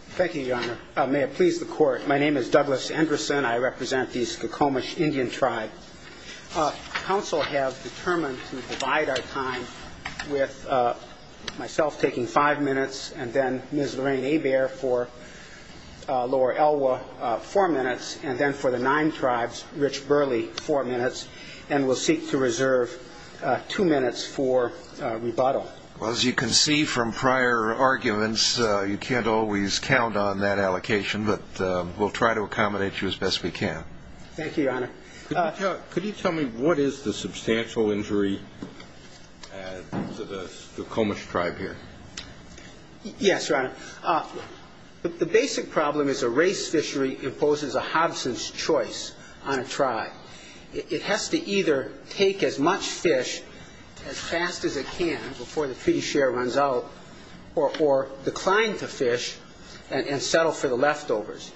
Thank you, Your Honor. May it please the Court, my name is Douglas Andresen. I represent the Skokomish Indian Tribe. Council has determined to divide our time with myself taking five minutes, and then Ms. Lorraine Hebert for Lower Elwha, four minutes, and then for the Nine Tribes, Rich Burley, four minutes, and we'll seek to reserve two minutes for rebuttal. As you can see from prior arguments, you can't always count on that allocation, but we'll try to accommodate you as best we can. Thank you, Your Honor. Could you tell me what is the substantial injury to the Skokomish Tribe here? Yes, Your Honor. The basic problem is a race fishery imposes a hobson's choice on a tribe. It has to either take as much fish as fast as it can before the treaty share runs out or decline to fish and settle for the leftovers.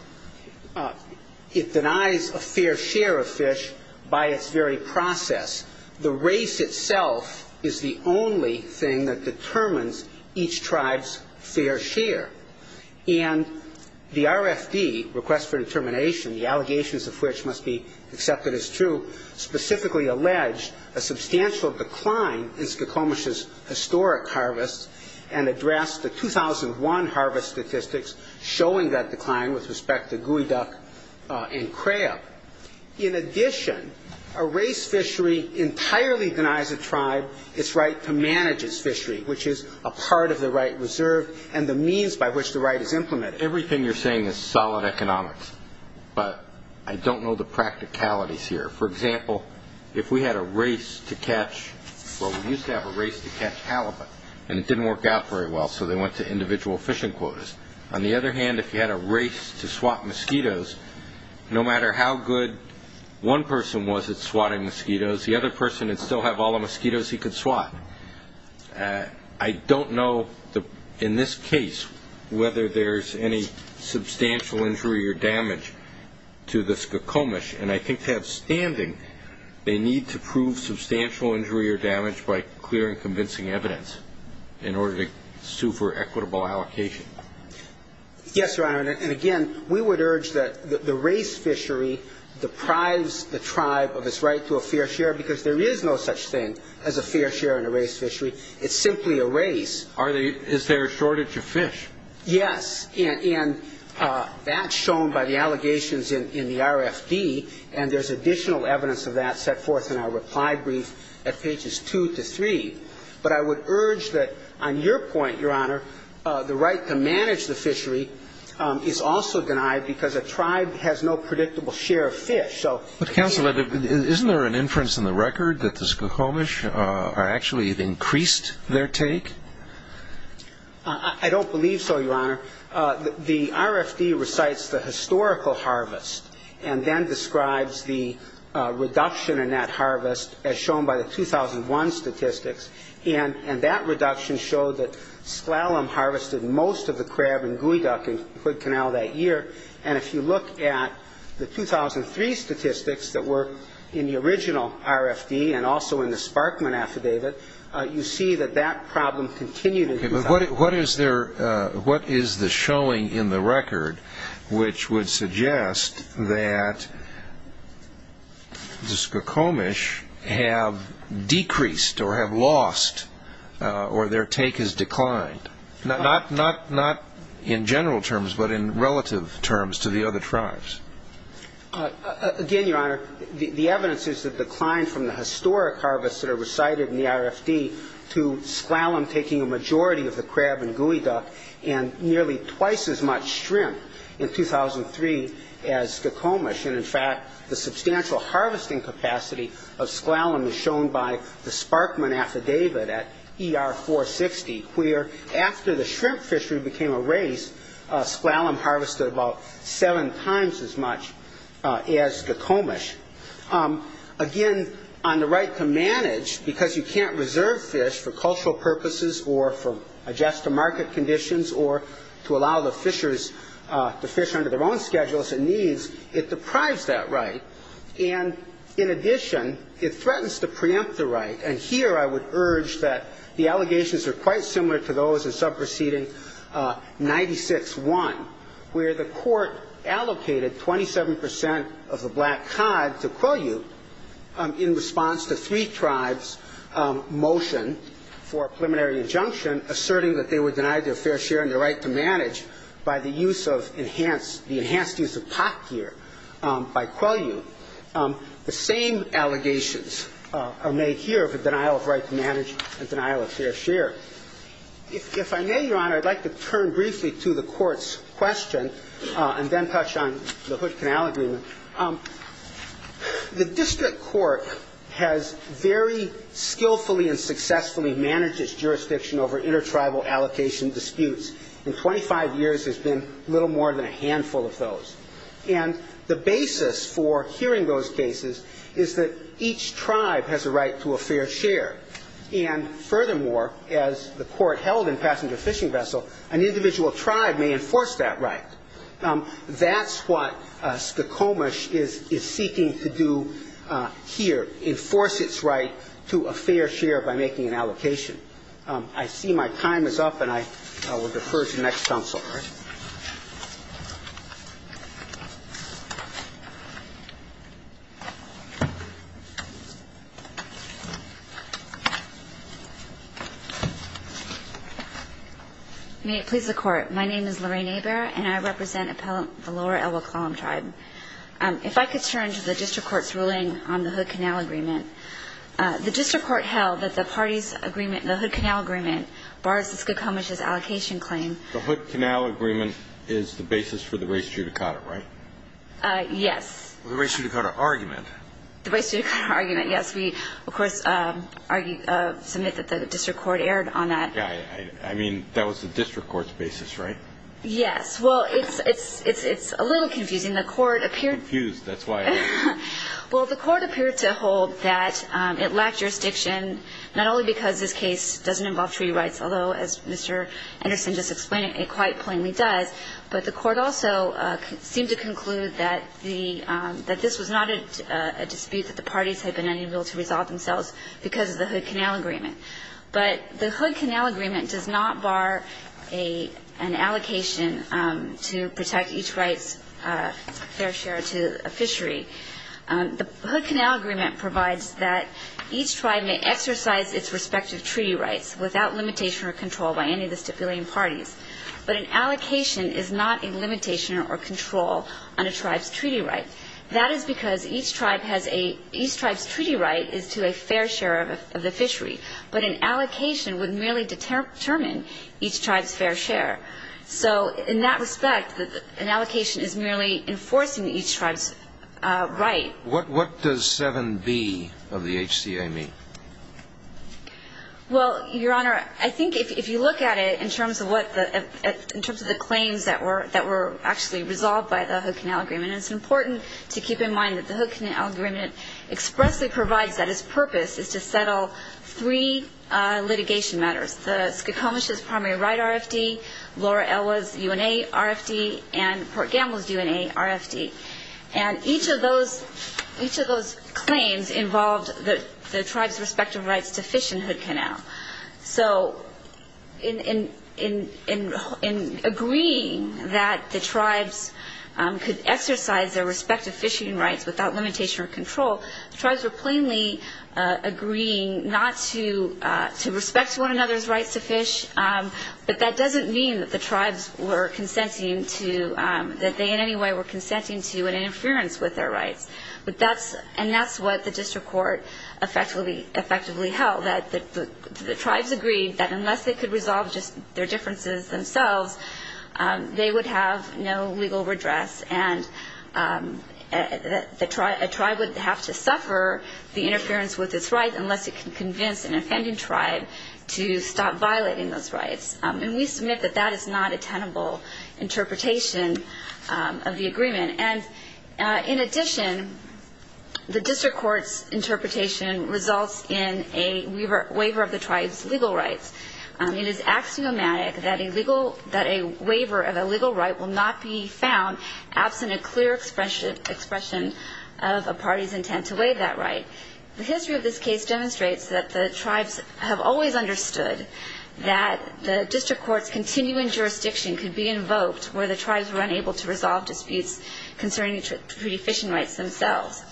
It denies a fair share of fish by its very process. The race itself is the only thing that determines each tribe's fair share. And the RFD, Request for Determination, the allegations of which must be accepted as true, specifically alleged a substantial decline in Skokomish's historic harvest and addressed the 2001 harvest statistics showing that decline with respect to geoduck and crab. In addition, a race fishery entirely denies a tribe its right to manage its fishery, which is a part of the right reserve and the means by which the right is implemented. Everything you're saying is solid economics, but I don't know the practicalities here. For example, if we had a race to catch, well, we used to have a race to catch halibut, and it didn't work out very well, so they went to individual fishing quotas. On the other hand, if you had a race to swat mosquitoes, no matter how good one person was at swatting mosquitoes, the other person would still have all the mosquitoes he could swat. I don't know in this case whether there's any substantial injury or damage to the Skokomish, and I think to have standing, they need to prove substantial injury or damage by clear and convincing evidence in order to sue for equitable allocation. Yes, Your Honor, and again, we would urge that the race fishery deprives the tribe of its right to a fair share because there is no such thing as a fair share in a race fishery. It's simply a race. Is there a shortage of fish? Yes, and that's shown by the allegations in the RFD, and there's additional evidence of that set forth in our reply brief at pages 2 to 3. But I would urge that on your point, Your Honor, the right to manage the fishery is also denied because a tribe has no predictable share of fish. But, Counsel, isn't there an inference in the record that the Skokomish actually increased their take? I don't believe so, Your Honor. The RFD recites the historical harvest and then describes the reduction in that harvest, as shown by the 2001 statistics, and that reduction showed that slalom harvested most of the crab and geoduck in Hood Canal that year. And if you look at the 2003 statistics that were in the original RFD and also in the Sparkman affidavit, you see that that problem continued in 2000. What is the showing in the record which would suggest that the Skokomish have decreased or have lost or their take has declined, not in general terms but in relative terms to the other tribes? Again, Your Honor, the evidence is the decline from the historic harvest that are recited in the RFD to slalom taking a majority of the crab and geoduck and nearly twice as much shrimp in 2003 as Skokomish. And, in fact, the substantial harvesting capacity of slalom is shown by the Sparkman affidavit at ER 460, where after the shrimp fishery became a race, slalom harvested about seven times as much as Skokomish. Again, on the right to manage, because you can't reserve fish for cultural purposes or for adjust-to-market conditions or to allow the fishers to fish under their own schedules and needs, it deprives that right. And, in addition, it threatens to preempt the right. And here I would urge that the allegations are quite similar to those in Subproceeding 96-1, where the court allocated 27 percent of the black cod to Quill Ute in response to three tribes' motion for a preliminary injunction asserting that they were denied their fair share and their right to manage by the enhanced use of pot gear by Quill Ute. The same allegations are made here for denial of right to manage and denial of fair share. If I may, Your Honor, I'd like to turn briefly to the court's question and then touch on the Hood Canal Agreement. The district court has very skillfully and successfully managed its jurisdiction over intertribal allocation disputes. In 25 years, there's been little more than a handful of those. And the basis for hearing those cases is that each tribe has a right to a fair share. And, furthermore, as the court held in Passenger Fishing Vessel, an individual tribe may enforce that right. That's what Skokomish is seeking to do here, enforce its right to a fair share by making an allocation. I see my time is up, and I will defer to the next counsel. All right. May it please the Court. My name is Lorraine Hebert, and I represent the Lower Elwha Klallam Tribe. If I could turn to the district court's ruling on the Hood Canal Agreement. The district court held that the party's agreement, the Hood Canal Agreement, bars the Skokomish's allocation claim. The Hood Canal Agreement is the basis for the race judicata, right? Yes. The race judicata argument. The race judicata argument, yes. We, of course, submit that the district court erred on that. Yeah, I mean, that was the district court's basis, right? Yes. Well, it's a little confusing. The court appeared to hold that it lacked jurisdiction, not only because this case doesn't involve treaty rights, although, as Mr. Anderson just explained, it quite plainly does, but the court also seemed to conclude that the – that this was not a dispute that the parties had been unable to resolve themselves because of the Hood Canal Agreement. But the Hood Canal Agreement does not bar an allocation to protect each right's fair share to a fishery. The Hood Canal Agreement provides that each tribe may exercise its respective treaty rights without limitation or control by any of the stipulating parties, but an allocation is not a limitation or control on a tribe's treaty right. That is because each tribe has a – each tribe's treaty right is to a fair share of the fishery, but an allocation would merely determine each tribe's fair share. So in that respect, an allocation is merely enforcing each tribe's right. What does 7B of the HCA mean? Well, Your Honor, I think if you look at it in terms of what the – in terms of the claims that were actually resolved by the Hood Canal Agreement, it's important to keep in mind that the Hood Canal Agreement expressly provides that its purpose is to settle three litigation matters, the Skokomish's primary right RFD, Laura Elwa's UNA RFD, and Port Gamble's UNA RFD. And each of those claims involved the tribes' respective rights to fish in the Hood Canal. So in agreeing that the tribes could exercise their respective fishing rights without limitation or control, the tribes were plainly agreeing not to respect one another's rights to fish, but that doesn't mean that the tribes were consenting to – that they in any way were consenting to an interference with their rights. But that's – and that's what the district court effectively held, that the tribes agreed that unless they could resolve just their differences themselves, they would have no legal redress and a tribe would have to suffer the interference with its rights unless it could convince an offending tribe to stop violating those rights. And we submit that that is not a tenable interpretation of the agreement. And in addition, the district court's interpretation results in a waiver of the tribes' legal rights. It is axiomatic that a waiver of a legal right will not be found absent a clear expression of a party's intent to waive that right. The history of this case demonstrates that the tribes have always understood that the district court's continuing jurisdiction could be invoked where the tribes were unable to resolve disputes concerning treaty fishing rights themselves.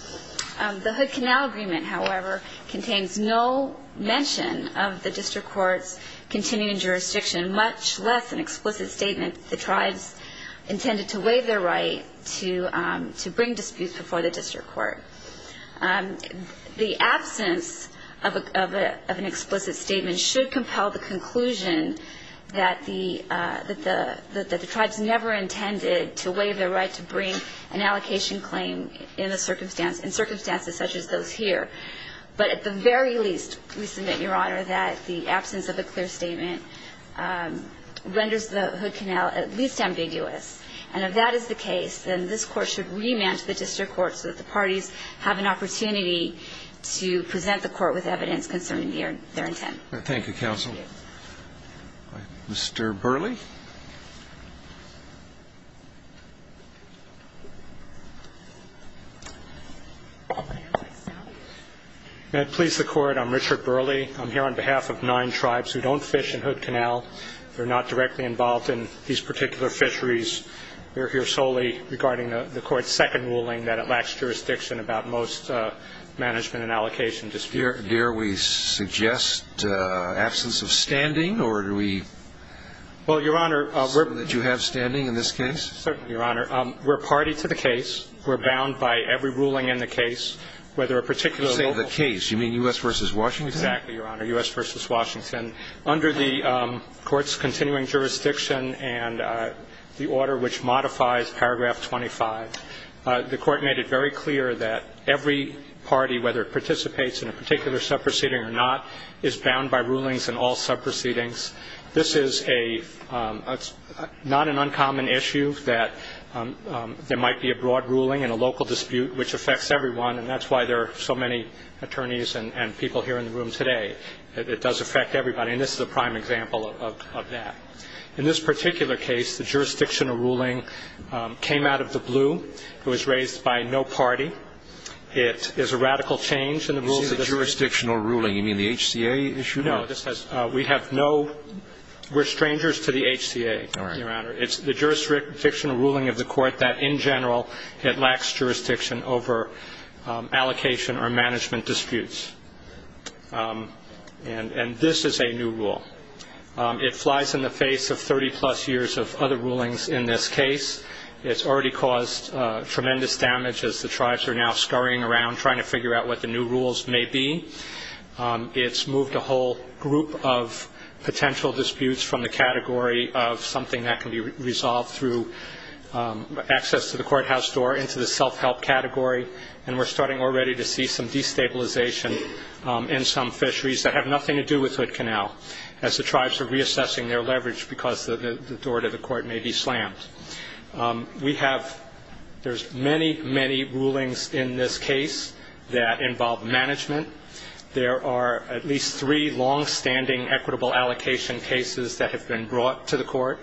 The Hood Canal Agreement, however, contains no mention of the district court's continuing jurisdiction, much less an explicit statement that the tribes intended to waive their right to bring disputes before the district court. The absence of an explicit statement should compel the conclusion that the tribes never intended to waive their right to bring an allocation claim in circumstances such as those here. But at the very least, we submit, Your Honor, that the absence of a clear statement renders the Hood Canal at least ambiguous. And if that is the case, then this Court should remand to the district court so that the parties have an opportunity to present the court with evidence concerning their intent. Thank you, counsel. Thank you. Mr. Burley. May it please the Court, I'm Richard Burley. I'm here on behalf of nine tribes who don't fish in Hood Canal. They're not directly involved in these particular fisheries. We're here solely regarding the Court's second ruling that it lacks jurisdiction about most management and allocation disputes. Dare we suggest absence of standing, or do we assume that you have standing in this case? Certainly, Your Honor. We're party to the case. We're bound by every ruling in the case, whether a particular local case. You say the case. You mean U.S. v. Washington? Exactly, Your Honor. U.S. v. Washington. Under the Court's continuing jurisdiction and the order which modifies paragraph 25, the Court made it very clear that every party, whether it participates in a particular sub-proceeding or not, is bound by rulings in all sub-proceedings. This is not an uncommon issue that there might be a broad ruling in a local dispute, which affects everyone, and that's why there are so many attorneys and people here in the room today. It does affect everybody, and this is a prime example of that. In this particular case, the jurisdictional ruling came out of the blue. It was raised by no party. It is a radical change in the rules of this case. You say jurisdictional ruling. You mean the HCA issued it? No. We have no ñ we're strangers to the HCA, Your Honor. All right. It's the jurisdictional ruling of the Court that, in general, it lacks jurisdiction over allocation or management disputes. And this is a new rule. It flies in the face of 30-plus years of other rulings in this case. It's already caused tremendous damage as the tribes are now scurrying around trying to figure out what the new rules may be. It's moved a whole group of potential disputes from the category of something that can be resolved through access to the courthouse door into the self-help category, and we're starting already to see some destabilization in some fisheries that have nothing to do with Hood Canal as the tribes are reassessing their leverage because the door to the court may be slammed. We have ñ there's many, many rulings in this case that involve management. There are at least three longstanding equitable allocation cases that have been brought to the court.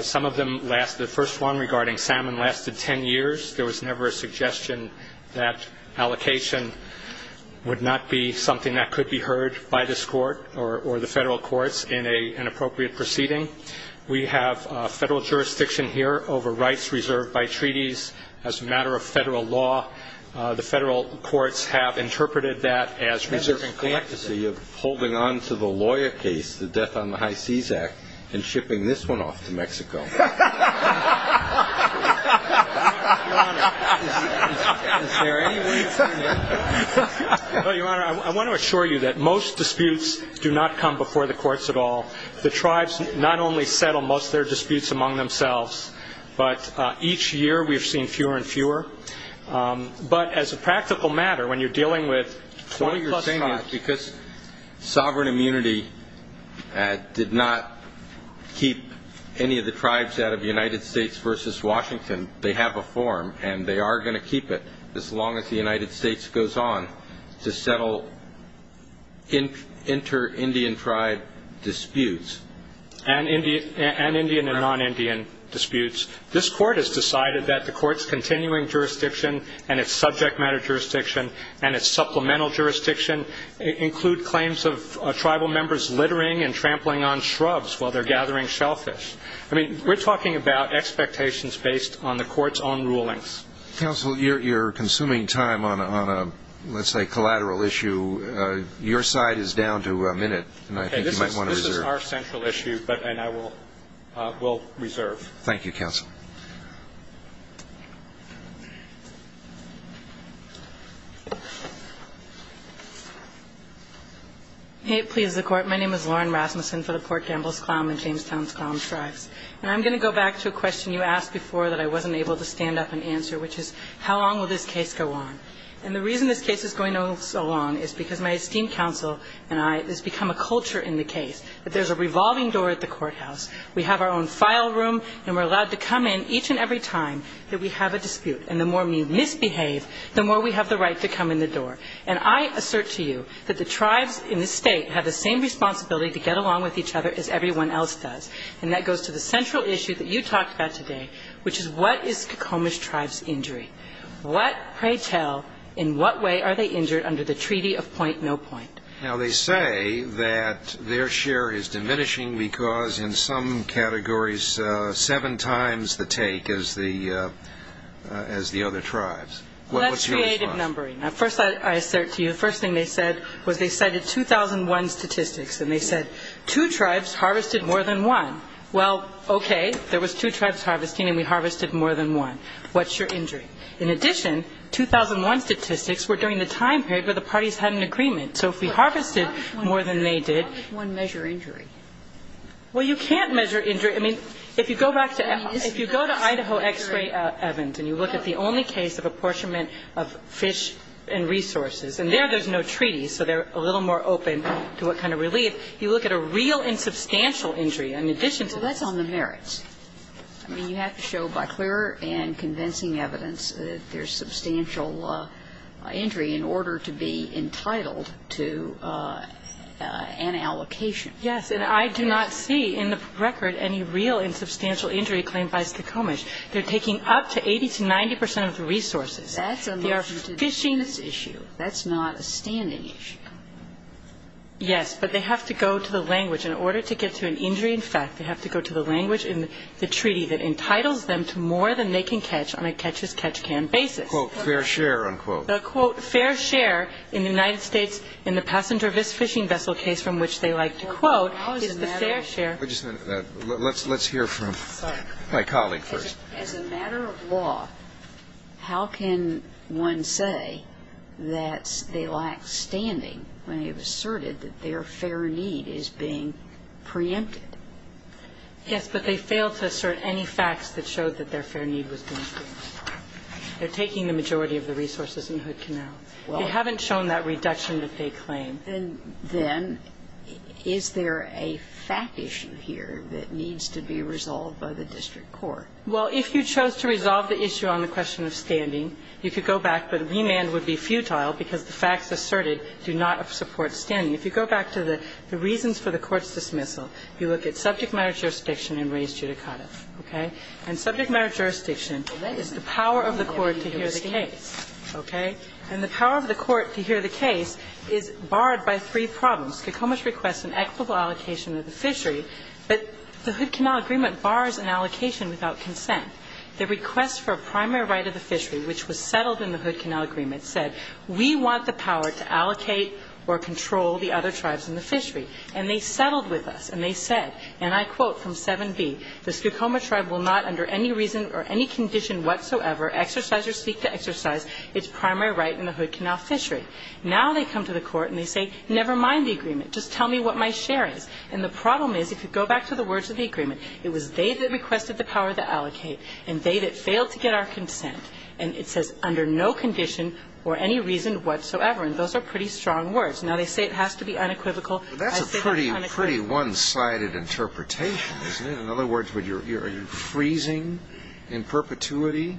Some of them last ñ the first one regarding salmon lasted 10 years. There was never a suggestion that allocation would not be something that could be heard by this court or the Federal courts in an appropriate proceeding. We have Federal jurisdiction here over rights reserved by treaties as a matter of Federal law. The Federal courts have interpreted that as reserving ñ So you're holding on to the lawyer case, the Death on the High Seas Act, and shipping this one off to Mexico. Your Honor, I want to assure you that most disputes do not come before the courts at all. The tribes not only settle most of their disputes among themselves, but each year we've seen fewer and fewer. But as a practical matter, when you're dealing with 20-plus tribes ñ So what you're saying is because sovereign immunity did not keep any of the tribes out of United States v. Washington, they have a form and they are going to keep it as long as the United States goes on to settle inter-Indian tribe disputes. And Indian and non-Indian disputes. This court has decided that the court's continuing jurisdiction and its subject matter jurisdiction and its supplemental jurisdiction include claims of tribal members littering and trampling on shrubs while they're gathering shellfish. I mean, we're talking about expectations based on the court's own rulings. Counsel, you're consuming time on a, let's say, collateral issue. Your side is down to a minute, and I think you might want to reserve. This is our central issue, and I will reserve. Thank you, Counsel. Hey, please, the Court. My name is Lauren Rasmussen for the Port Gambles-Clown and Jamestown-Clown Tribes. And I'm going to go back to a question you asked before that I wasn't able to stand up and answer, which is how long will this case go on. And the reason this case is going on so long is because my esteemed counsel and I, there's become a culture in the case that there's a revolving door at the courthouse. We have our own file room, and we're allowed to come in each and every time that we have a dispute. And the more we misbehave, the more we have the right to come in the door. And I assert to you that the tribes in this State have the same responsibility to get along with each other as everyone else does, and that goes to the central issue that you talked about today, which is what is Kokomis tribe's injury. What, pray tell, in what way are they injured under the treaty of point no point? Now, they say that their share is diminishing because, in some categories, seven times the take as the other tribes. Well, that's creative numbering. First I assert to you, the first thing they said was they cited 2001 statistics, and they said two tribes harvested more than one. Well, okay, there was two tribes harvesting, and we harvested more than one. What's your injury? In addition, 2001 statistics were during the time period where the parties had an agreement. So if we harvested more than they did. But how does one measure injury? Well, you can't measure injury. I mean, if you go back to Ed, if you go to Idaho X-ray Evans and you look at the only case of apportionment of fish and resources, and there there's no treaty, so they're a little more open to what kind of relief. You look at a real and substantial injury in addition to this. Well, that's on the merits. I mean, you have to show by clear and convincing evidence that there's substantial injury in order to be entitled to an allocation. Yes. And I do not see in the record any real and substantial injury claimed by Stokomish. They're taking up to 80 to 90 percent of the resources. That's a motion to dismiss issue. They are fishing. That's not a standing issue. Yes, but they have to go to the language. In order to get to an injury in fact, they have to go to the language in the treaty that entitles them to more than they can catch on a catch-as-catch-can basis. Fair share, unquote. The, quote, fair share in the United States in the passenger fishing vessel case from which they like to quote is the fair share. Let's hear from my colleague first. As a matter of law, how can one say that they lack standing when they have asserted that their fair need is being preempted? Yes, but they failed to assert any facts that showed that their fair need was being preempted. They're taking the majority of the resources in Hood Canal. They haven't shown that reduction that they claim. And then is there a fact issue here that needs to be resolved by the district court? Well, if you chose to resolve the issue on the question of standing, you could go back, but remand would be futile because the facts asserted do not support standing. If you go back to the reasons for the court's dismissal, you look at subject matter jurisdiction and res judicata, okay? And subject matter jurisdiction is the power of the court to hear the case, okay? And the power of the court to hear the case is barred by three problems. Skokoma's request an equitable allocation of the fishery, but the Hood Canal agreement bars an allocation without consent. The request for a primary right of the fishery, which was settled in the Hood Canal agreement, said we want the power to allocate or control the other tribes in the fishery. And they settled with us, and they said, and I quote from 7b, the Skokoma tribe will not under any reason or any condition whatsoever exercise or seek to exercise its primary right in the Hood Canal fishery. Now they come to the court and they say, never mind the agreement. Just tell me what my share is. And the problem is, if you go back to the words of the agreement, it was they that requested the power to allocate and they that failed to get our consent. And it says under no condition or any reason whatsoever. And those are pretty strong words. Now, they say it has to be unequivocal. I say it unequivocal. But that's a pretty, pretty one-sided interpretation, isn't it? In other words, are you freezing in perpetuity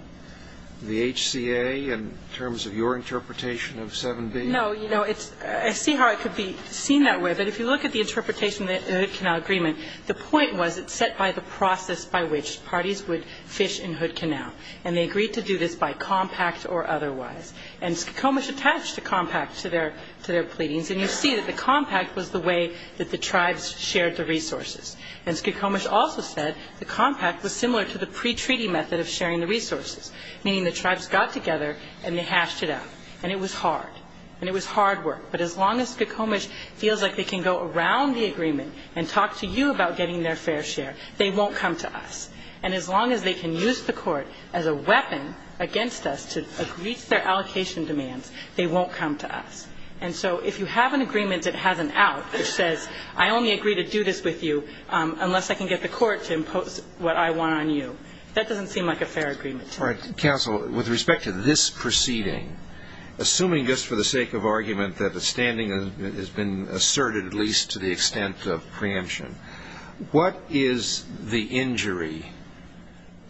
the HCA in terms of your interpretation of 7b? No. You know, I see how it could be seen that way. But if you look at the interpretation of the Hood Canal agreement, the point was it's set by the process by which parties would fish in Hood Canal. And they agreed to do this by compact or otherwise. And Skokomish attached a compact to their pleadings. And you see that the compact was the way that the tribes shared the resources. And Skokomish also said the compact was similar to the pretreaty method of sharing the resources, meaning the tribes got together and they hashed it out. And it was hard. And it was hard work. But as long as Skokomish feels like they can go around the agreement and talk to you about getting their fair share, they won't come to us. And as long as they can use the court as a weapon against us to reach their allocation demands, they won't come to us. And so if you have an agreement that has an out, which says I only agree to do this with you unless I can get the court to impose what I want on you, that doesn't seem like a fair agreement. All right. Counsel, with respect to this proceeding, assuming just for the sake of argument that the standing has been asserted, at least to the extent of preemption, what is the injury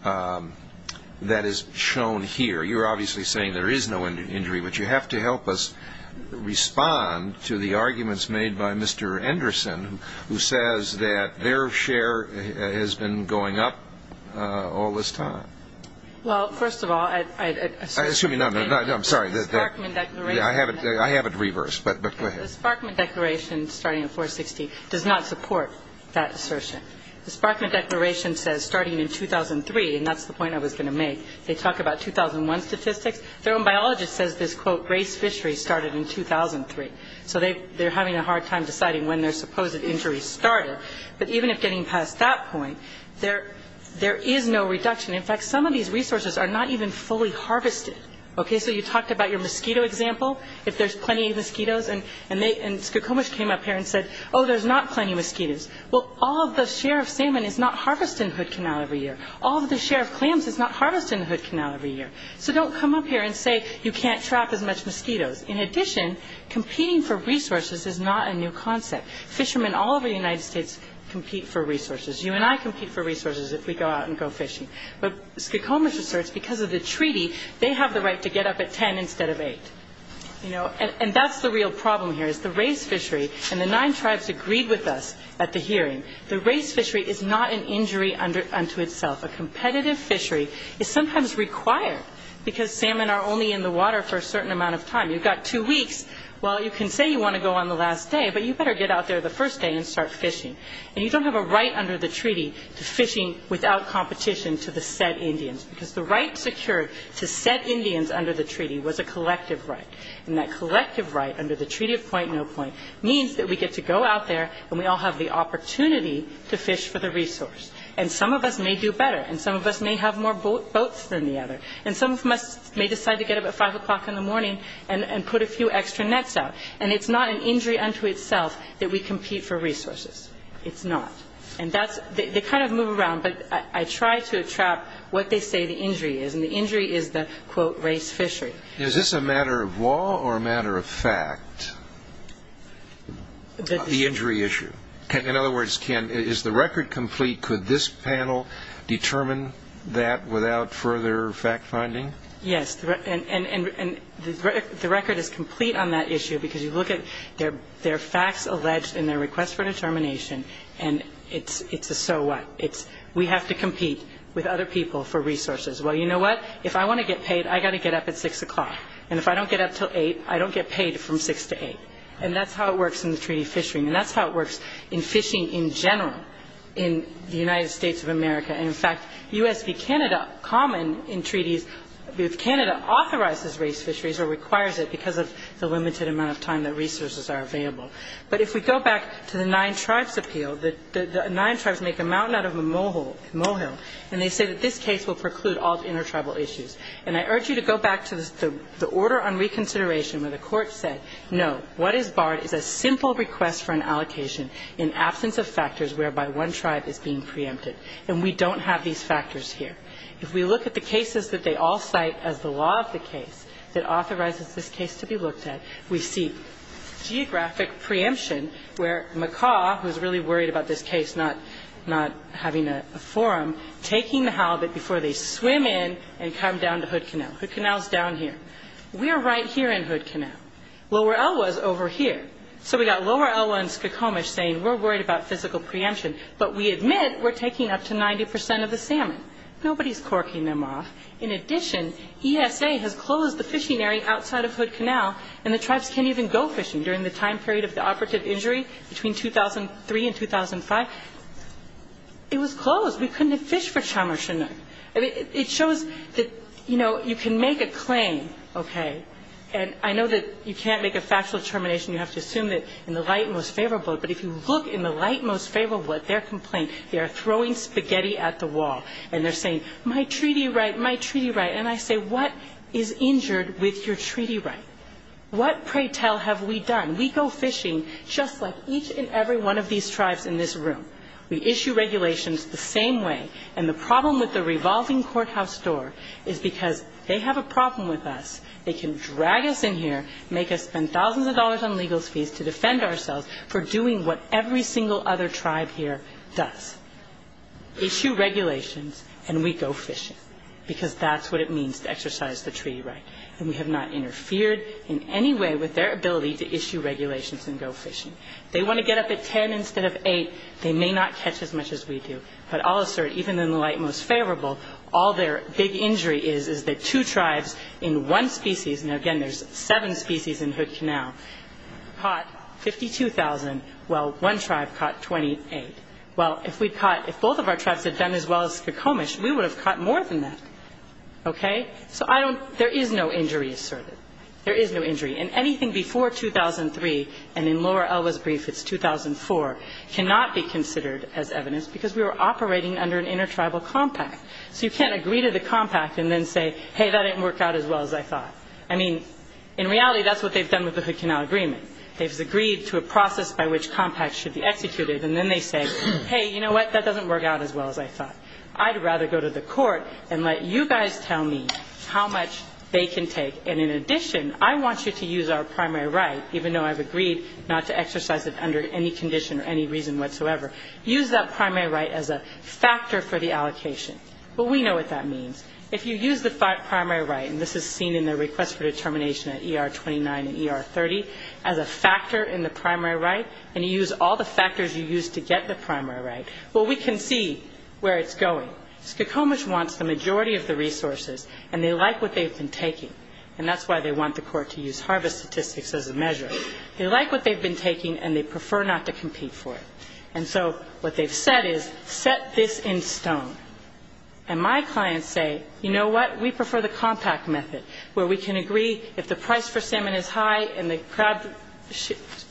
that is shown here? You're obviously saying there is no injury, but you have to help us respond to the that their share has been going up all this time. Well, first of all, I'd assume. Excuse me. I'm sorry. The Sparkman Declaration. I have it reversed, but go ahead. The Sparkman Declaration, starting in 460, does not support that assertion. The Sparkman Declaration says starting in 2003, and that's the point I was going to make, they talk about 2001 statistics. Their own biologist says this, quote, race fishery started in 2003. So they're having a hard time deciding when their supposed injury started. But even if getting past that point, there is no reduction. In fact, some of these resources are not even fully harvested. Okay. So you talked about your mosquito example, if there's plenty of mosquitoes. And Skokomish came up here and said, oh, there's not plenty of mosquitoes. Well, all of the share of salmon is not harvested in Hood Canal every year. All of the share of clams is not harvested in Hood Canal every year. So don't come up here and say you can't trap as much mosquitoes. In addition, competing for resources is not a new concept. Fishermen all over the United States compete for resources. You and I compete for resources if we go out and go fishing. But Skokomish asserts because of the treaty, they have the right to get up at 10 instead of 8. And that's the real problem here is the race fishery. And the nine tribes agreed with us at the hearing. The race fishery is not an injury unto itself. A competitive fishery is sometimes required because salmon are only in the water for a certain amount of time. You've got two weeks. Well, you can say you want to go on the last day, but you better get out there the first day and start fishing. And you don't have a right under the treaty to fishing without competition to the said Indians because the right secured to said Indians under the treaty was a collective right. And that collective right under the treaty of point-no-point means that we get to go out there and we all have the opportunity to fish for the resource. And some of us may do better. And some of us may have more boats than the other. And some of us may decide to get up at 5 o'clock in the morning and put a few extra nets out. And it's not an injury unto itself that we compete for resources. It's not. And that's the kind of move around. But I try to trap what they say the injury is. And the injury is the, quote, race fishery. Is this a matter of law or a matter of fact, the injury issue? In other words, Ken, is the record complete? Could this panel determine that without further fact-finding? Yes. And the record is complete on that issue because you look at their facts alleged and their request for determination, and it's a so what. We have to compete with other people for resources. Well, you know what? If I want to get paid, I've got to get up at 6 o'clock. And if I don't get up until 8, I don't get paid from 6 to 8. And that's how it works in the treaty of fishing. And that's how it works in fishing in general in the United States of America. And, in fact, U.S. v. Canada, common in treaties, Canada authorizes race fisheries or requires it because of the limited amount of time that resources are available. But if we go back to the Nine Tribes Appeal, the Nine Tribes make a mountain out of a molehill, and they say that this case will preclude all intertribal issues. And I urge you to go back to the order on reconsideration where the courts say, no, what is barred is a simple request for an allocation in absence of factors whereby one tribe is being preempted. And we don't have these factors here. If we look at the cases that they all cite as the law of the case that authorizes this case to be looked at, we see geographic preemption where Makah, who is really worried about this case not having a forum, taking the halibut before they swim in and come down to Hood Canal. Hood Canal is down here. We are right here in Hood Canal. Lower Elwha is over here. So we've got Lower Elwha and Skokomish saying, we're worried about physical preemption, but we admit we're taking up to 90 percent of the salmon. Nobody is corking them off. In addition, ESA has closed the fishing area outside of Hood Canal, and the tribes can't even go fishing during the time period of the operative injury between 2003 and 2005. It was closed. We couldn't have fished for Chum or Chinook. It shows that, you know, you can make a claim, okay? And I know that you can't make a factual determination. You have to assume that in the light and most favorable, but if you look in the light and most favorable at their complaint, they are throwing spaghetti at the wall, and they're saying, my treaty right, my treaty right, and I say, what is injured with your treaty right? What, pray tell, have we done? We go fishing just like each and every one of these tribes in this room. We issue regulations the same way, and the problem with the revolving courthouse door is because they have a problem with us. They can drag us in here, make us spend thousands of dollars on legal fees to defend ourselves for doing what every single other tribe here does, issue regulations, and we go fishing, because that's what it means to exercise the treaty right, and we have not interfered in any way with their ability to issue regulations and go fishing. If they want to get up at 10 instead of 8, they may not catch as much as we do, but I'll assert, even in the light and most favorable, all their big injury is is that two tribes in one species, and again, there's seven species in Hood Canal, caught 52,000 while one tribe caught 28. Well, if we'd caught, if both of our tribes had done as well as Skokomish, we would have caught more than that. Okay? So I don't, there is no injury asserted. There is no injury, and anything before 2003, and in Laura Elwes' brief, it's 2004, cannot be considered as evidence because we were operating under an intertribal compact. So you can't agree to the compact and then say, hey, that didn't work out as well as I thought. I mean, in reality, that's what they've done with the Hood Canal Agreement. They've agreed to a process by which compacts should be executed, and then they say, hey, you know what, that doesn't work out as well as I thought. I'd rather go to the court and let you guys tell me how much they can take, and in addition, I want you to use our primary right, even though I've agreed not to exercise it under any condition or any reason whatsoever, use that primary right as a factor for the allocation. Well, we know what that means. If you use the primary right, and this is seen in the request for determination at ER 29 and ER 30, as a factor in the primary right, and you use all the factors you used to get the primary right, well, we can see where it's going. Skokomish wants the majority of the resources, and they like what they've been taking, and that's why they want the court to use harvest statistics as a measure. They like what they've been taking, and they prefer not to compete for it. And so what they've said is set this in stone. And my clients say, you know what, we prefer the compact method, where we can agree if the price for salmon is high and the crab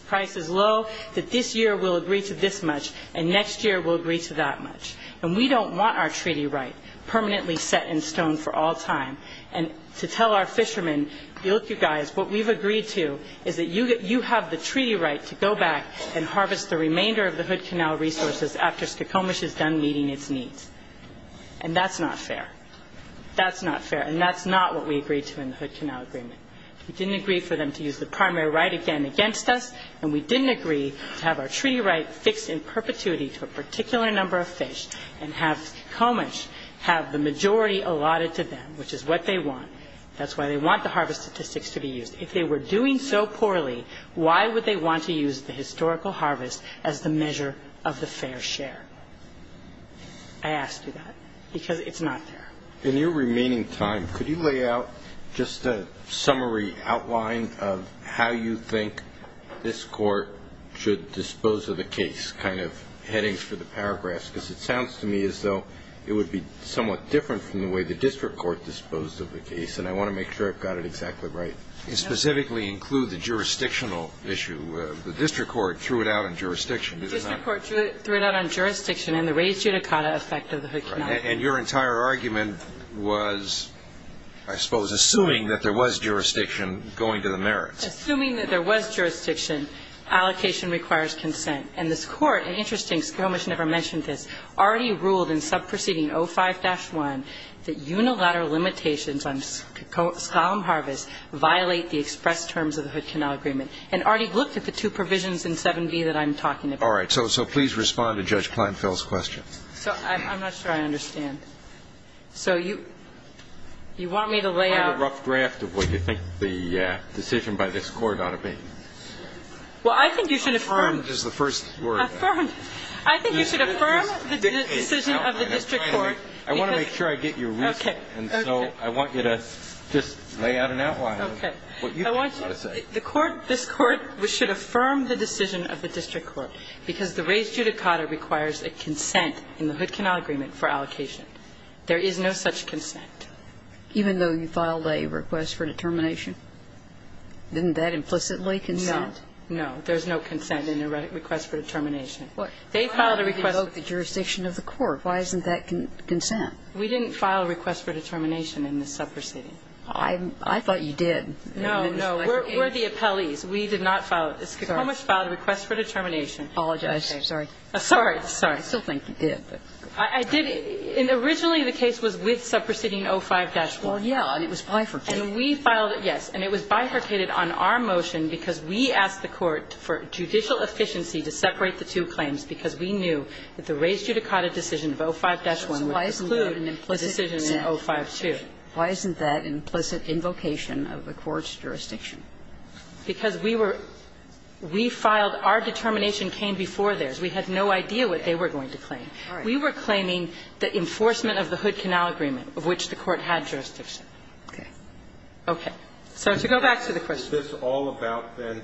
price is low, that this year we'll agree to this much, and next year we'll agree to that much. And we don't want our treaty right permanently set in stone for all time, and to tell our fishermen, look, you guys, what we've agreed to is that you have the treaty right to go back and harvest the remainder of the Hood Canal resources after Skokomish is done meeting its needs. And that's not fair. That's not fair, and that's not what we agreed to in the Hood Canal agreement. We didn't agree for them to use the primary right again against us, and we didn't agree to have our treaty right fixed in perpetuity to a particular number of fish and have Skokomish have the majority allotted to them, which is what they want. That's why they want the harvest statistics to be used. If they were doing so poorly, why would they want to use the historical harvest as the measure of the fair share? I ask you that, because it's not fair. In your remaining time, could you lay out just a summary outline of how you think this Court should dispose of the case, just kind of headings for the paragraphs, because it sounds to me as though it would be somewhat different from the way the district court disposed of the case, and I want to make sure I've got it exactly right. And specifically include the jurisdictional issue. The district court threw it out on jurisdiction. The district court threw it out on jurisdiction and the raised judicata effect of the Hood Canal. And your entire argument was, I suppose, assuming that there was jurisdiction going to the merits. Assuming that there was jurisdiction, allocation requires consent. And this Court, and interesting, Skomish never mentioned this, already ruled in Subproceeding 05-1 that unilateral limitations on skylum harvest violate the express terms of the Hood Canal Agreement, and already looked at the two provisions in 7b that I'm talking about. All right. So please respond to Judge Kleinfeld's question. So I'm not sure I understand. So you want me to lay out. Find a rough draft of what you think the decision by this Court ought to be. Well, I think you should affirm. Affirm is the first word. Affirm. I think you should affirm the decision of the district court. I want to make sure I get your reason. Okay. Okay. And so I want you to just lay out an outline of what you want to say. The Court, this Court should affirm the decision of the district court because the raised judicata requires a consent in the Hood Canal Agreement for allocation. There is no such consent. Even though you filed a request for determination? Isn't that implicitly consent? No. There's no consent in the request for determination. They filed a request. Why didn't you revoke the jurisdiction of the court? Why isn't that consent? We didn't file a request for determination in the subproceeding. I thought you did. No, no. We're the appellees. We did not file it. Skokomish filed a request for determination. Apologize. Sorry. Sorry. Sorry. I still think you did. I did. Originally, the case was with subproceeding 05-1. Well, yeah. And it was bifurcated. And we filed it, yes. And it was bifurcated on our motion, because we asked the court for judicial efficiency to separate the two claims, because we knew that the raised judicata decision of 05-1 would preclude an implicit decision in 05-2. Why isn't that implicit invocation of the court's jurisdiction? Because we were we filed our determination came before theirs. We had no idea what they were going to claim. We were claiming the enforcement of the Hood Canal Agreement, of which the court had jurisdiction. Okay. Okay. So to go back to the question. Is this all about, then,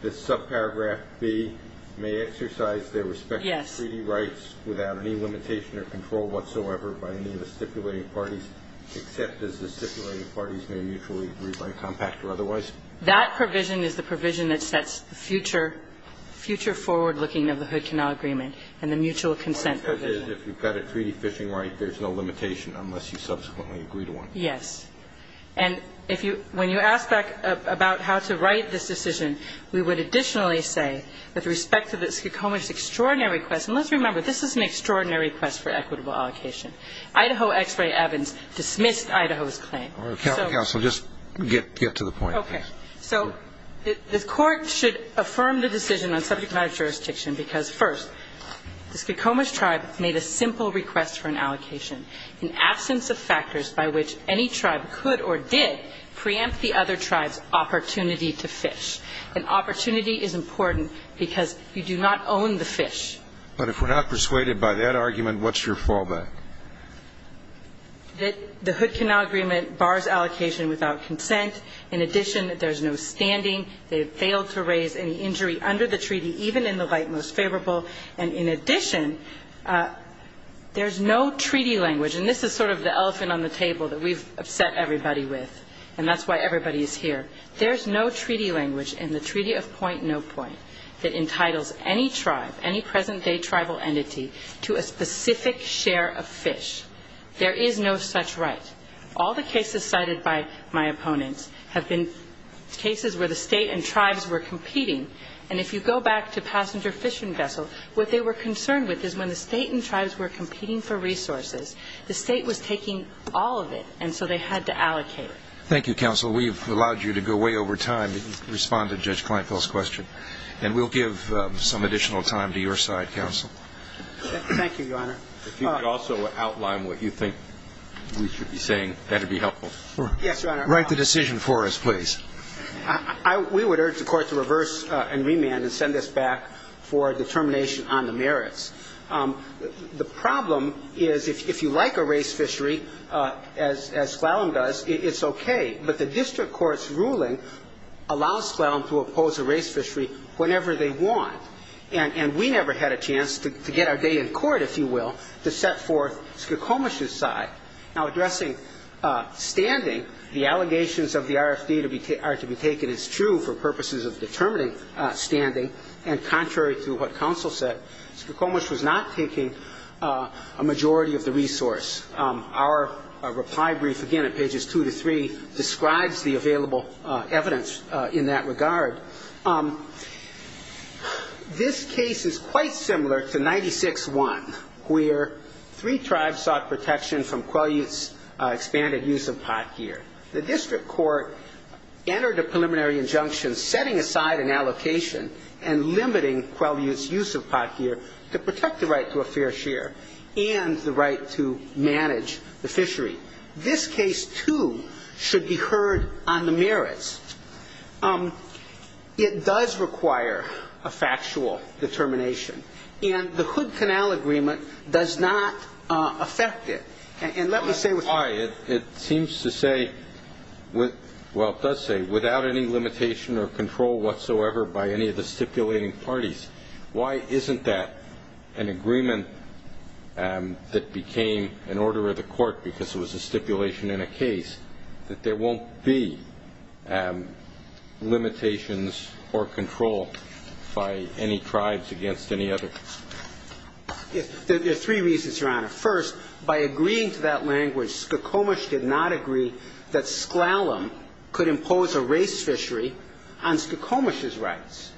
this subparagraph B, may exercise their respective treaty rights without any limitation or control whatsoever by any of the stipulated parties, except as the stipulated parties may mutually agree by compact or otherwise? That provision is the provision that sets the future forward looking of the Hood Canal Agreement and the mutual consent provision. If you've got a treaty fishing right, there's no limitation unless you subsequently agree to one. Yes. And if you when you ask back about how to write this decision, we would additionally say with respect to the Skokomish's extraordinary request, and let's remember this is an extraordinary request for equitable allocation. Idaho Ex Ray Evans dismissed Idaho's claim. Counsel, just get to the point. Okay. So the court should affirm the decision on subject matter jurisdiction because, first, the Skokomish tribe made a simple request for an allocation in absence of factors by which any tribe could or did preempt the other tribe's opportunity to fish. And opportunity is important because you do not own the fish. But if we're not persuaded by that argument, what's your fallback? That the Hood Canal Agreement bars allocation without consent. In addition, there's no standing. They have failed to raise any injury under the treaty, even in the light most favorable. And in addition, there's no treaty language. And this is sort of the elephant on the table that we've upset everybody with. And that's why everybody is here. There's no treaty language in the Treaty of Point-No-Point that entitles any tribe, any present-day tribal entity, to a specific share of fish. There is no such right. All the cases cited by my opponents have been cases where the State and tribes were competing. And if you go back to passenger fishing vessel, what they were concerned with is when the State and tribes were competing for resources, the State was taking all of it. And so they had to allocate. Thank you, Counsel. We've allowed you to go way over time to respond to Judge Kleinfeld's question. And we'll give some additional time to your side, Counsel. Thank you, Your Honor. If you could also outline what you think we should be saying, that would be helpful. Yes, Your Honor. Write the decision for us, please. We would urge the Court to reverse and remand and send this back for determination on the merits. The problem is if you like a race fishery, as Sklallam does, it's okay. But the district court's ruling allows Sklallam to oppose a race fishery whenever they want. And we never had a chance to get our day in court, if you will, to set forth Skokomish's side. Now, addressing standing, the allegations of the RFD are to be taken as true for purposes of determining standing, and contrary to what Counsel said, Skokomish was not taking a majority of the resource. Our reply brief, again, at pages 2 to 3, describes the available evidence in that regard. This case is quite similar to 96-1, where three tribes sought protection from Quelyut's expanded use of pot gear. The district court entered a preliminary injunction setting aside an allocation and limiting Quelyut's use of pot gear to protect the right to a fair share and the right to manage the fishery. This case, too, should be heard on the merits. It does require a factual determination, and the Hood Canal Agreement does not affect it. And let me say why. It seems to say, well, it does say, without any limitation or control whatsoever by any of the stipulating parties. Why isn't that an agreement that became an order of the court, because it was a stipulation in a case, that there won't be limitations or control by any tribes against any other? There are three reasons, Your Honor. First, by agreeing to that language, Skokomish did not agree that Sklallam could impose a race fishery on Skokomish's rights,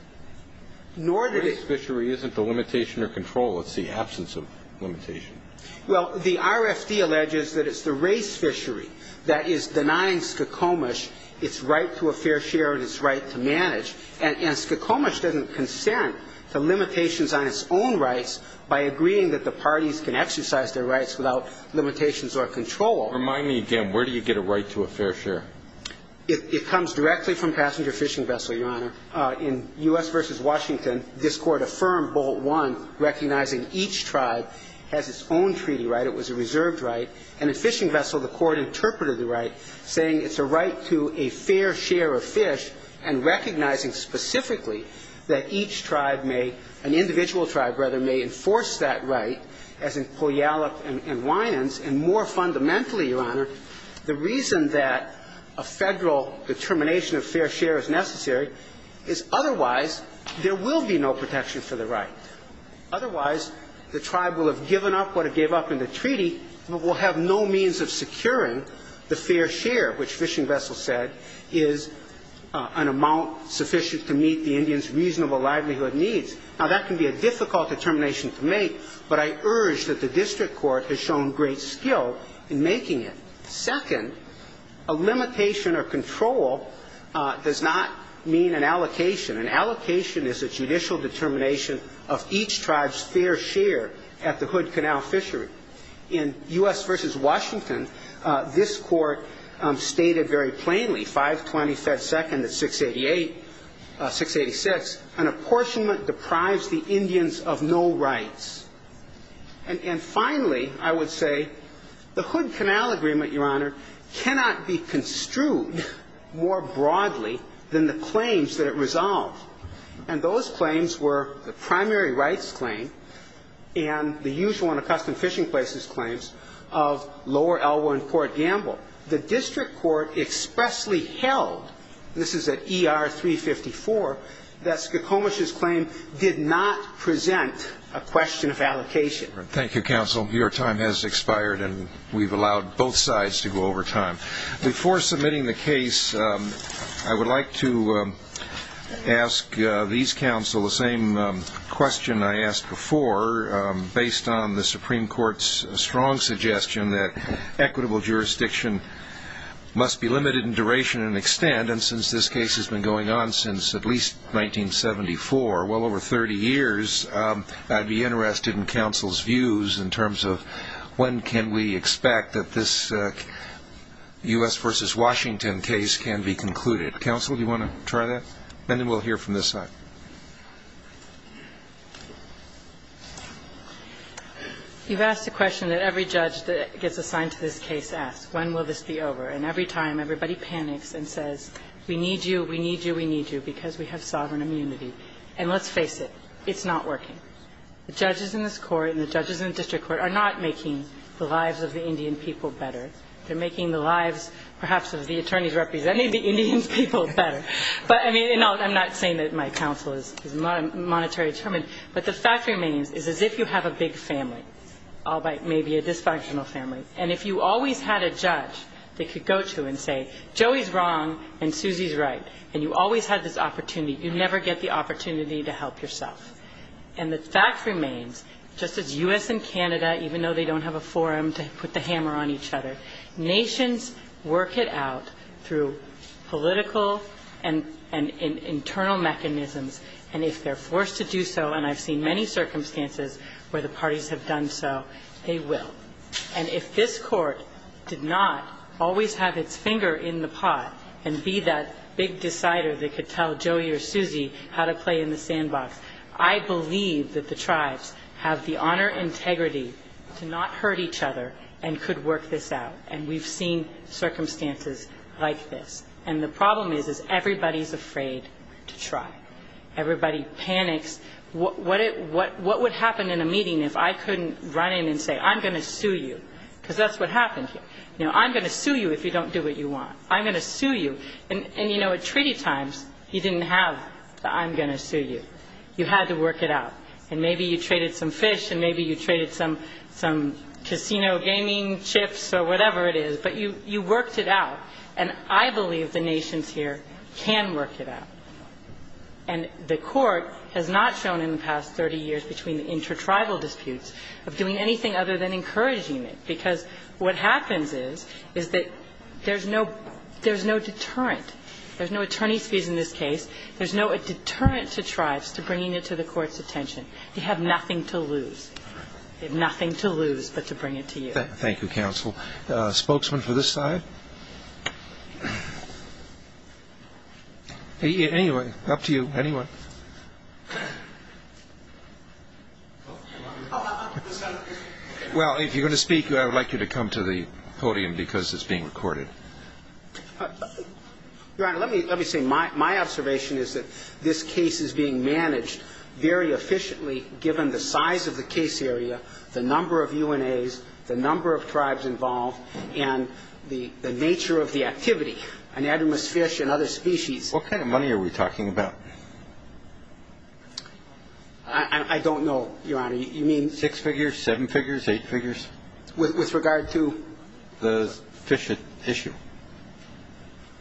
nor did it... Race fishery isn't a limitation or control. It's the absence of limitation. Well, the RFD alleges that it's the race fishery that is denying Skokomish its right to a fair share and its right to manage. And Skokomish doesn't consent to limitations on its own rights by agreeing that the parties can exercise their rights without limitations or control. Remind me again, where do you get a right to a fair share? It comes directly from passenger fishing vessel, Your Honor. In U.S. v. Washington, this Court affirmed Bolt I, recognizing each tribe has its own treaty right. It was a reserved right. And in fishing vessel, the Court interpreted the right, saying it's a right to a fair share of fish, and recognizing specifically that each tribe may, an individual tribe, rather, may enforce that right, as in Poyallup and Winans. And more fundamentally, Your Honor, the reason that a Federal determination of fair share is necessary is otherwise there will be no protection for the right. Otherwise, the tribe will have given up what it gave up in the treaty, but will have no means of securing the fair share, which fishing vessel said is an amount sufficient to meet the Indian's reasonable livelihood needs. Now, that can be a difficult determination to make, but I urge that the district court has shown great skill in making it. Second, a limitation or control does not mean an allocation. An allocation is a judicial determination of each tribe's fair share at the Hood Canal Fishery. In U.S. v. Washington, this Court stated very plainly, 520 Fed 2nd at 688, 686, an apportionment deprives the Indians of no rights. And finally, I would say the Hood Canal Agreement, Your Honor, cannot be construed more broadly than the claims that it resolved. And those claims were the primary rights claim and the usual and accustomed fishing places claims of Lower Elwyn Court Gamble. The district court expressly held, this is at ER 354, that Skokomish's claim did not present a question of allocation. Before submitting the case, I would like to ask these counsel the same question I asked before, based on the Supreme Court's strong suggestion that equitable jurisdiction must be limited in duration and extent. And since this case has been going on since at least 1974, well over 30 years, I'd be interested in counsel's views in terms of when can we expect that this U.S. v. Washington case can be concluded. Counsel, do you want to try that? And then we'll hear from this side. You've asked a question that every judge that gets assigned to this case asks, when will this be over? And every time, everybody panics and says, we need you, we need you, we need you, because we have sovereign immunity. And let's face it, it's not working. The judges in this court and the judges in the district court are not making the lives of the Indian people better. They're making the lives, perhaps, of the attorneys representing the Indian people better. But, I mean, I'm not saying that my counsel is monetary determined, but the fact remains is as if you have a big family, albeit maybe a dysfunctional family, and if you always had a judge that could go to and say, Joey's wrong and Susie's right, and you always had this opportunity, you never get the opportunity to help yourself. And the fact remains, just as U.S. and Canada, even though they don't have a forum to put the hammer on each other, nations work it out through political and internal mechanisms. And if they're forced to do so, and I've seen many circumstances where the parties have done so, they will. And if this court did not always have its finger in the pot and be that big decider that could tell Joey or Susie how to play in the sandbox, I believe that the tribes have the honor and integrity to not hurt each other and could work this out. And we've seen circumstances like this. And the problem is, is everybody's afraid to try. Everybody panics. What would happen in a meeting if I couldn't run in and say, I'm going to sue you? Because that's what happened here. I'm going to sue you if you don't do what you want. I'm going to sue you. And at treaty times, you didn't have the I'm going to sue you. You had to work it out. And maybe you traded some fish and maybe you traded some casino gaming chips or whatever it is, but you worked it out. And I believe the nations here can work it out. And the Court has not shown in the past 30 years between the intertribal disputes of doing anything other than encouraging it, because what happens is, is that there's no there's no deterrent. There's no attorney's fees in this case. There's no deterrent to tribes to bringing it to the Court's attention. They have nothing to lose. They have nothing to lose but to bring it to you. Thank you, counsel. Spokesman for this side. Anyway, up to you, anyone. Well, if you're going to speak, I would like you to come to the podium because it's being recorded. Your Honor, let me say my observation is that this case is being managed very efficiently given the size of the case area, the number of UNAs, the number of tribes involved and the nature of the activity, anadromous fish and other species. What kind of money are we talking about? I don't know, Your Honor. You mean six figures, seven figures, eight figures? With regard to the fish issue.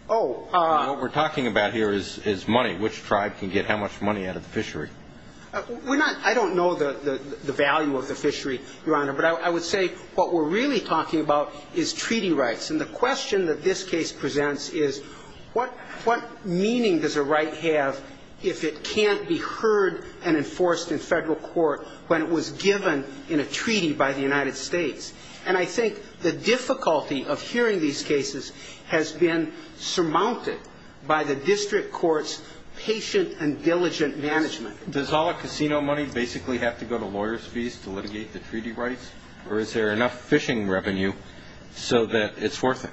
What we're talking about here is money. Which tribe can get how much money out of the fishery? I don't know the value of the fishery, Your Honor. But I would say what we're really talking about is treaty rights. And the question that this case presents is what meaning does a right have if it can't be heard and enforced in Federal court when it was given in a treaty by the United States? And I think the difficulty of hearing these cases has been surmounted by the district court's patient and diligent management. Does all the casino money basically have to go to lawyers' fees to litigate the treaty rights? Or is there enough fishing revenue so that it's worth it?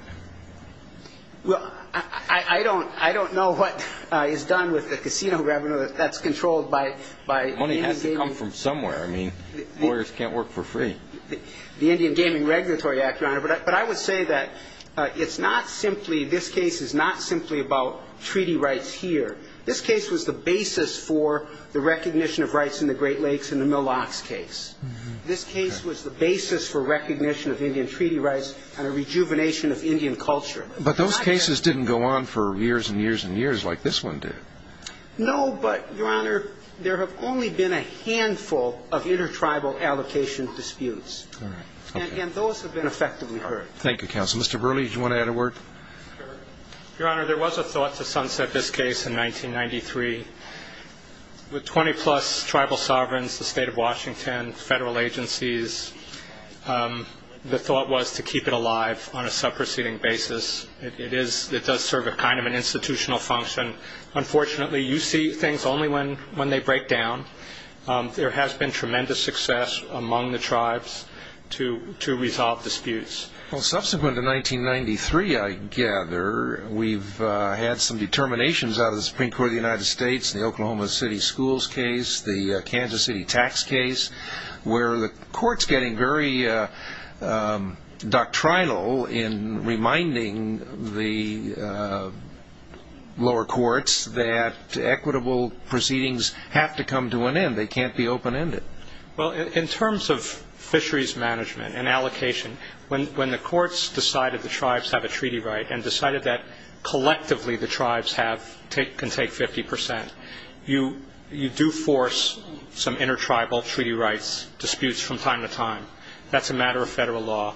Well, I don't know what is done with the casino revenue that's controlled by Indian Gaming. The money has to come from somewhere. I mean, lawyers can't work for free. The Indian Gaming Regulatory Act, Your Honor. But I would say that it's not simply this case is not simply about treaty rights here. This case was the basis for the recognition of rights in the Great Lakes in the Milox case. This case was the basis for recognition of Indian treaty rights and a rejuvenation of Indian culture. But those cases didn't go on for years and years and years like this one did. No, but, Your Honor, there have only been a handful of intertribal allocation disputes. All right. And those have been effectively heard. Thank you, counsel. Mr. Burley, did you want to add a word? Sure. Your Honor, there was a thought to Sunset, this case, in 1993. With 20-plus tribal sovereigns, the State of Washington, Federal agencies, the thought was to keep it alive on a subproceeding basis. It does serve a kind of an institutional function. Unfortunately, you see things only when they break down. There has been tremendous success among the tribes to resolve disputes. Well, subsequent to 1993, I gather, we've had some determinations out of the Supreme Court of the United States, the Oklahoma City schools case, the Kansas City tax case, where the court's getting very doctrinal in reminding the lower courts that equitable proceedings have to come to an end. They can't be open-ended. Well, in terms of fisheries management and allocation, when the courts decided the tribes have a treaty right and decided that collectively the tribes can take 50 percent, you do force some intertribal treaty rights disputes from time to time. That's a matter of Federal law.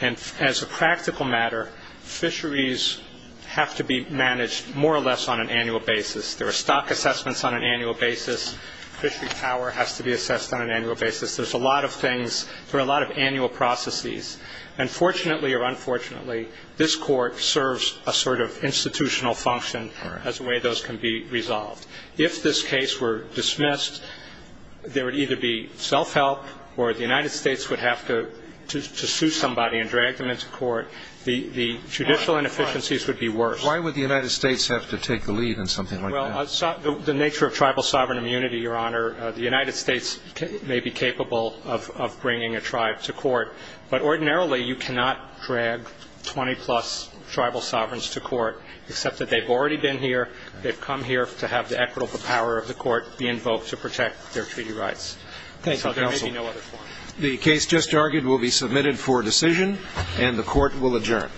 And as a practical matter, fisheries have to be managed more or less on an annual basis. There are stock assessments on an annual basis. Fishery power has to be assessed on an annual basis. There's a lot of things. There are a lot of annual processes. And fortunately or unfortunately, this court serves a sort of institutional function as a way those can be resolved. If this case were dismissed, there would either be self-help or the United States would have to sue somebody and drag them into court. The judicial inefficiencies would be worse. Why would the United States have to take the lead in something like that? Well, the nature of tribal sovereign immunity, Your Honor, the United States may be capable of bringing a tribe to court. But ordinarily, you cannot drag 20-plus tribal sovereigns to court, except that they've already been here, they've come here to have the equitable power of the court be invoked to protect their treaty rights. Thank you, counsel. There may be no other form. The case just argued will be submitted for decision, and the court will adjourn.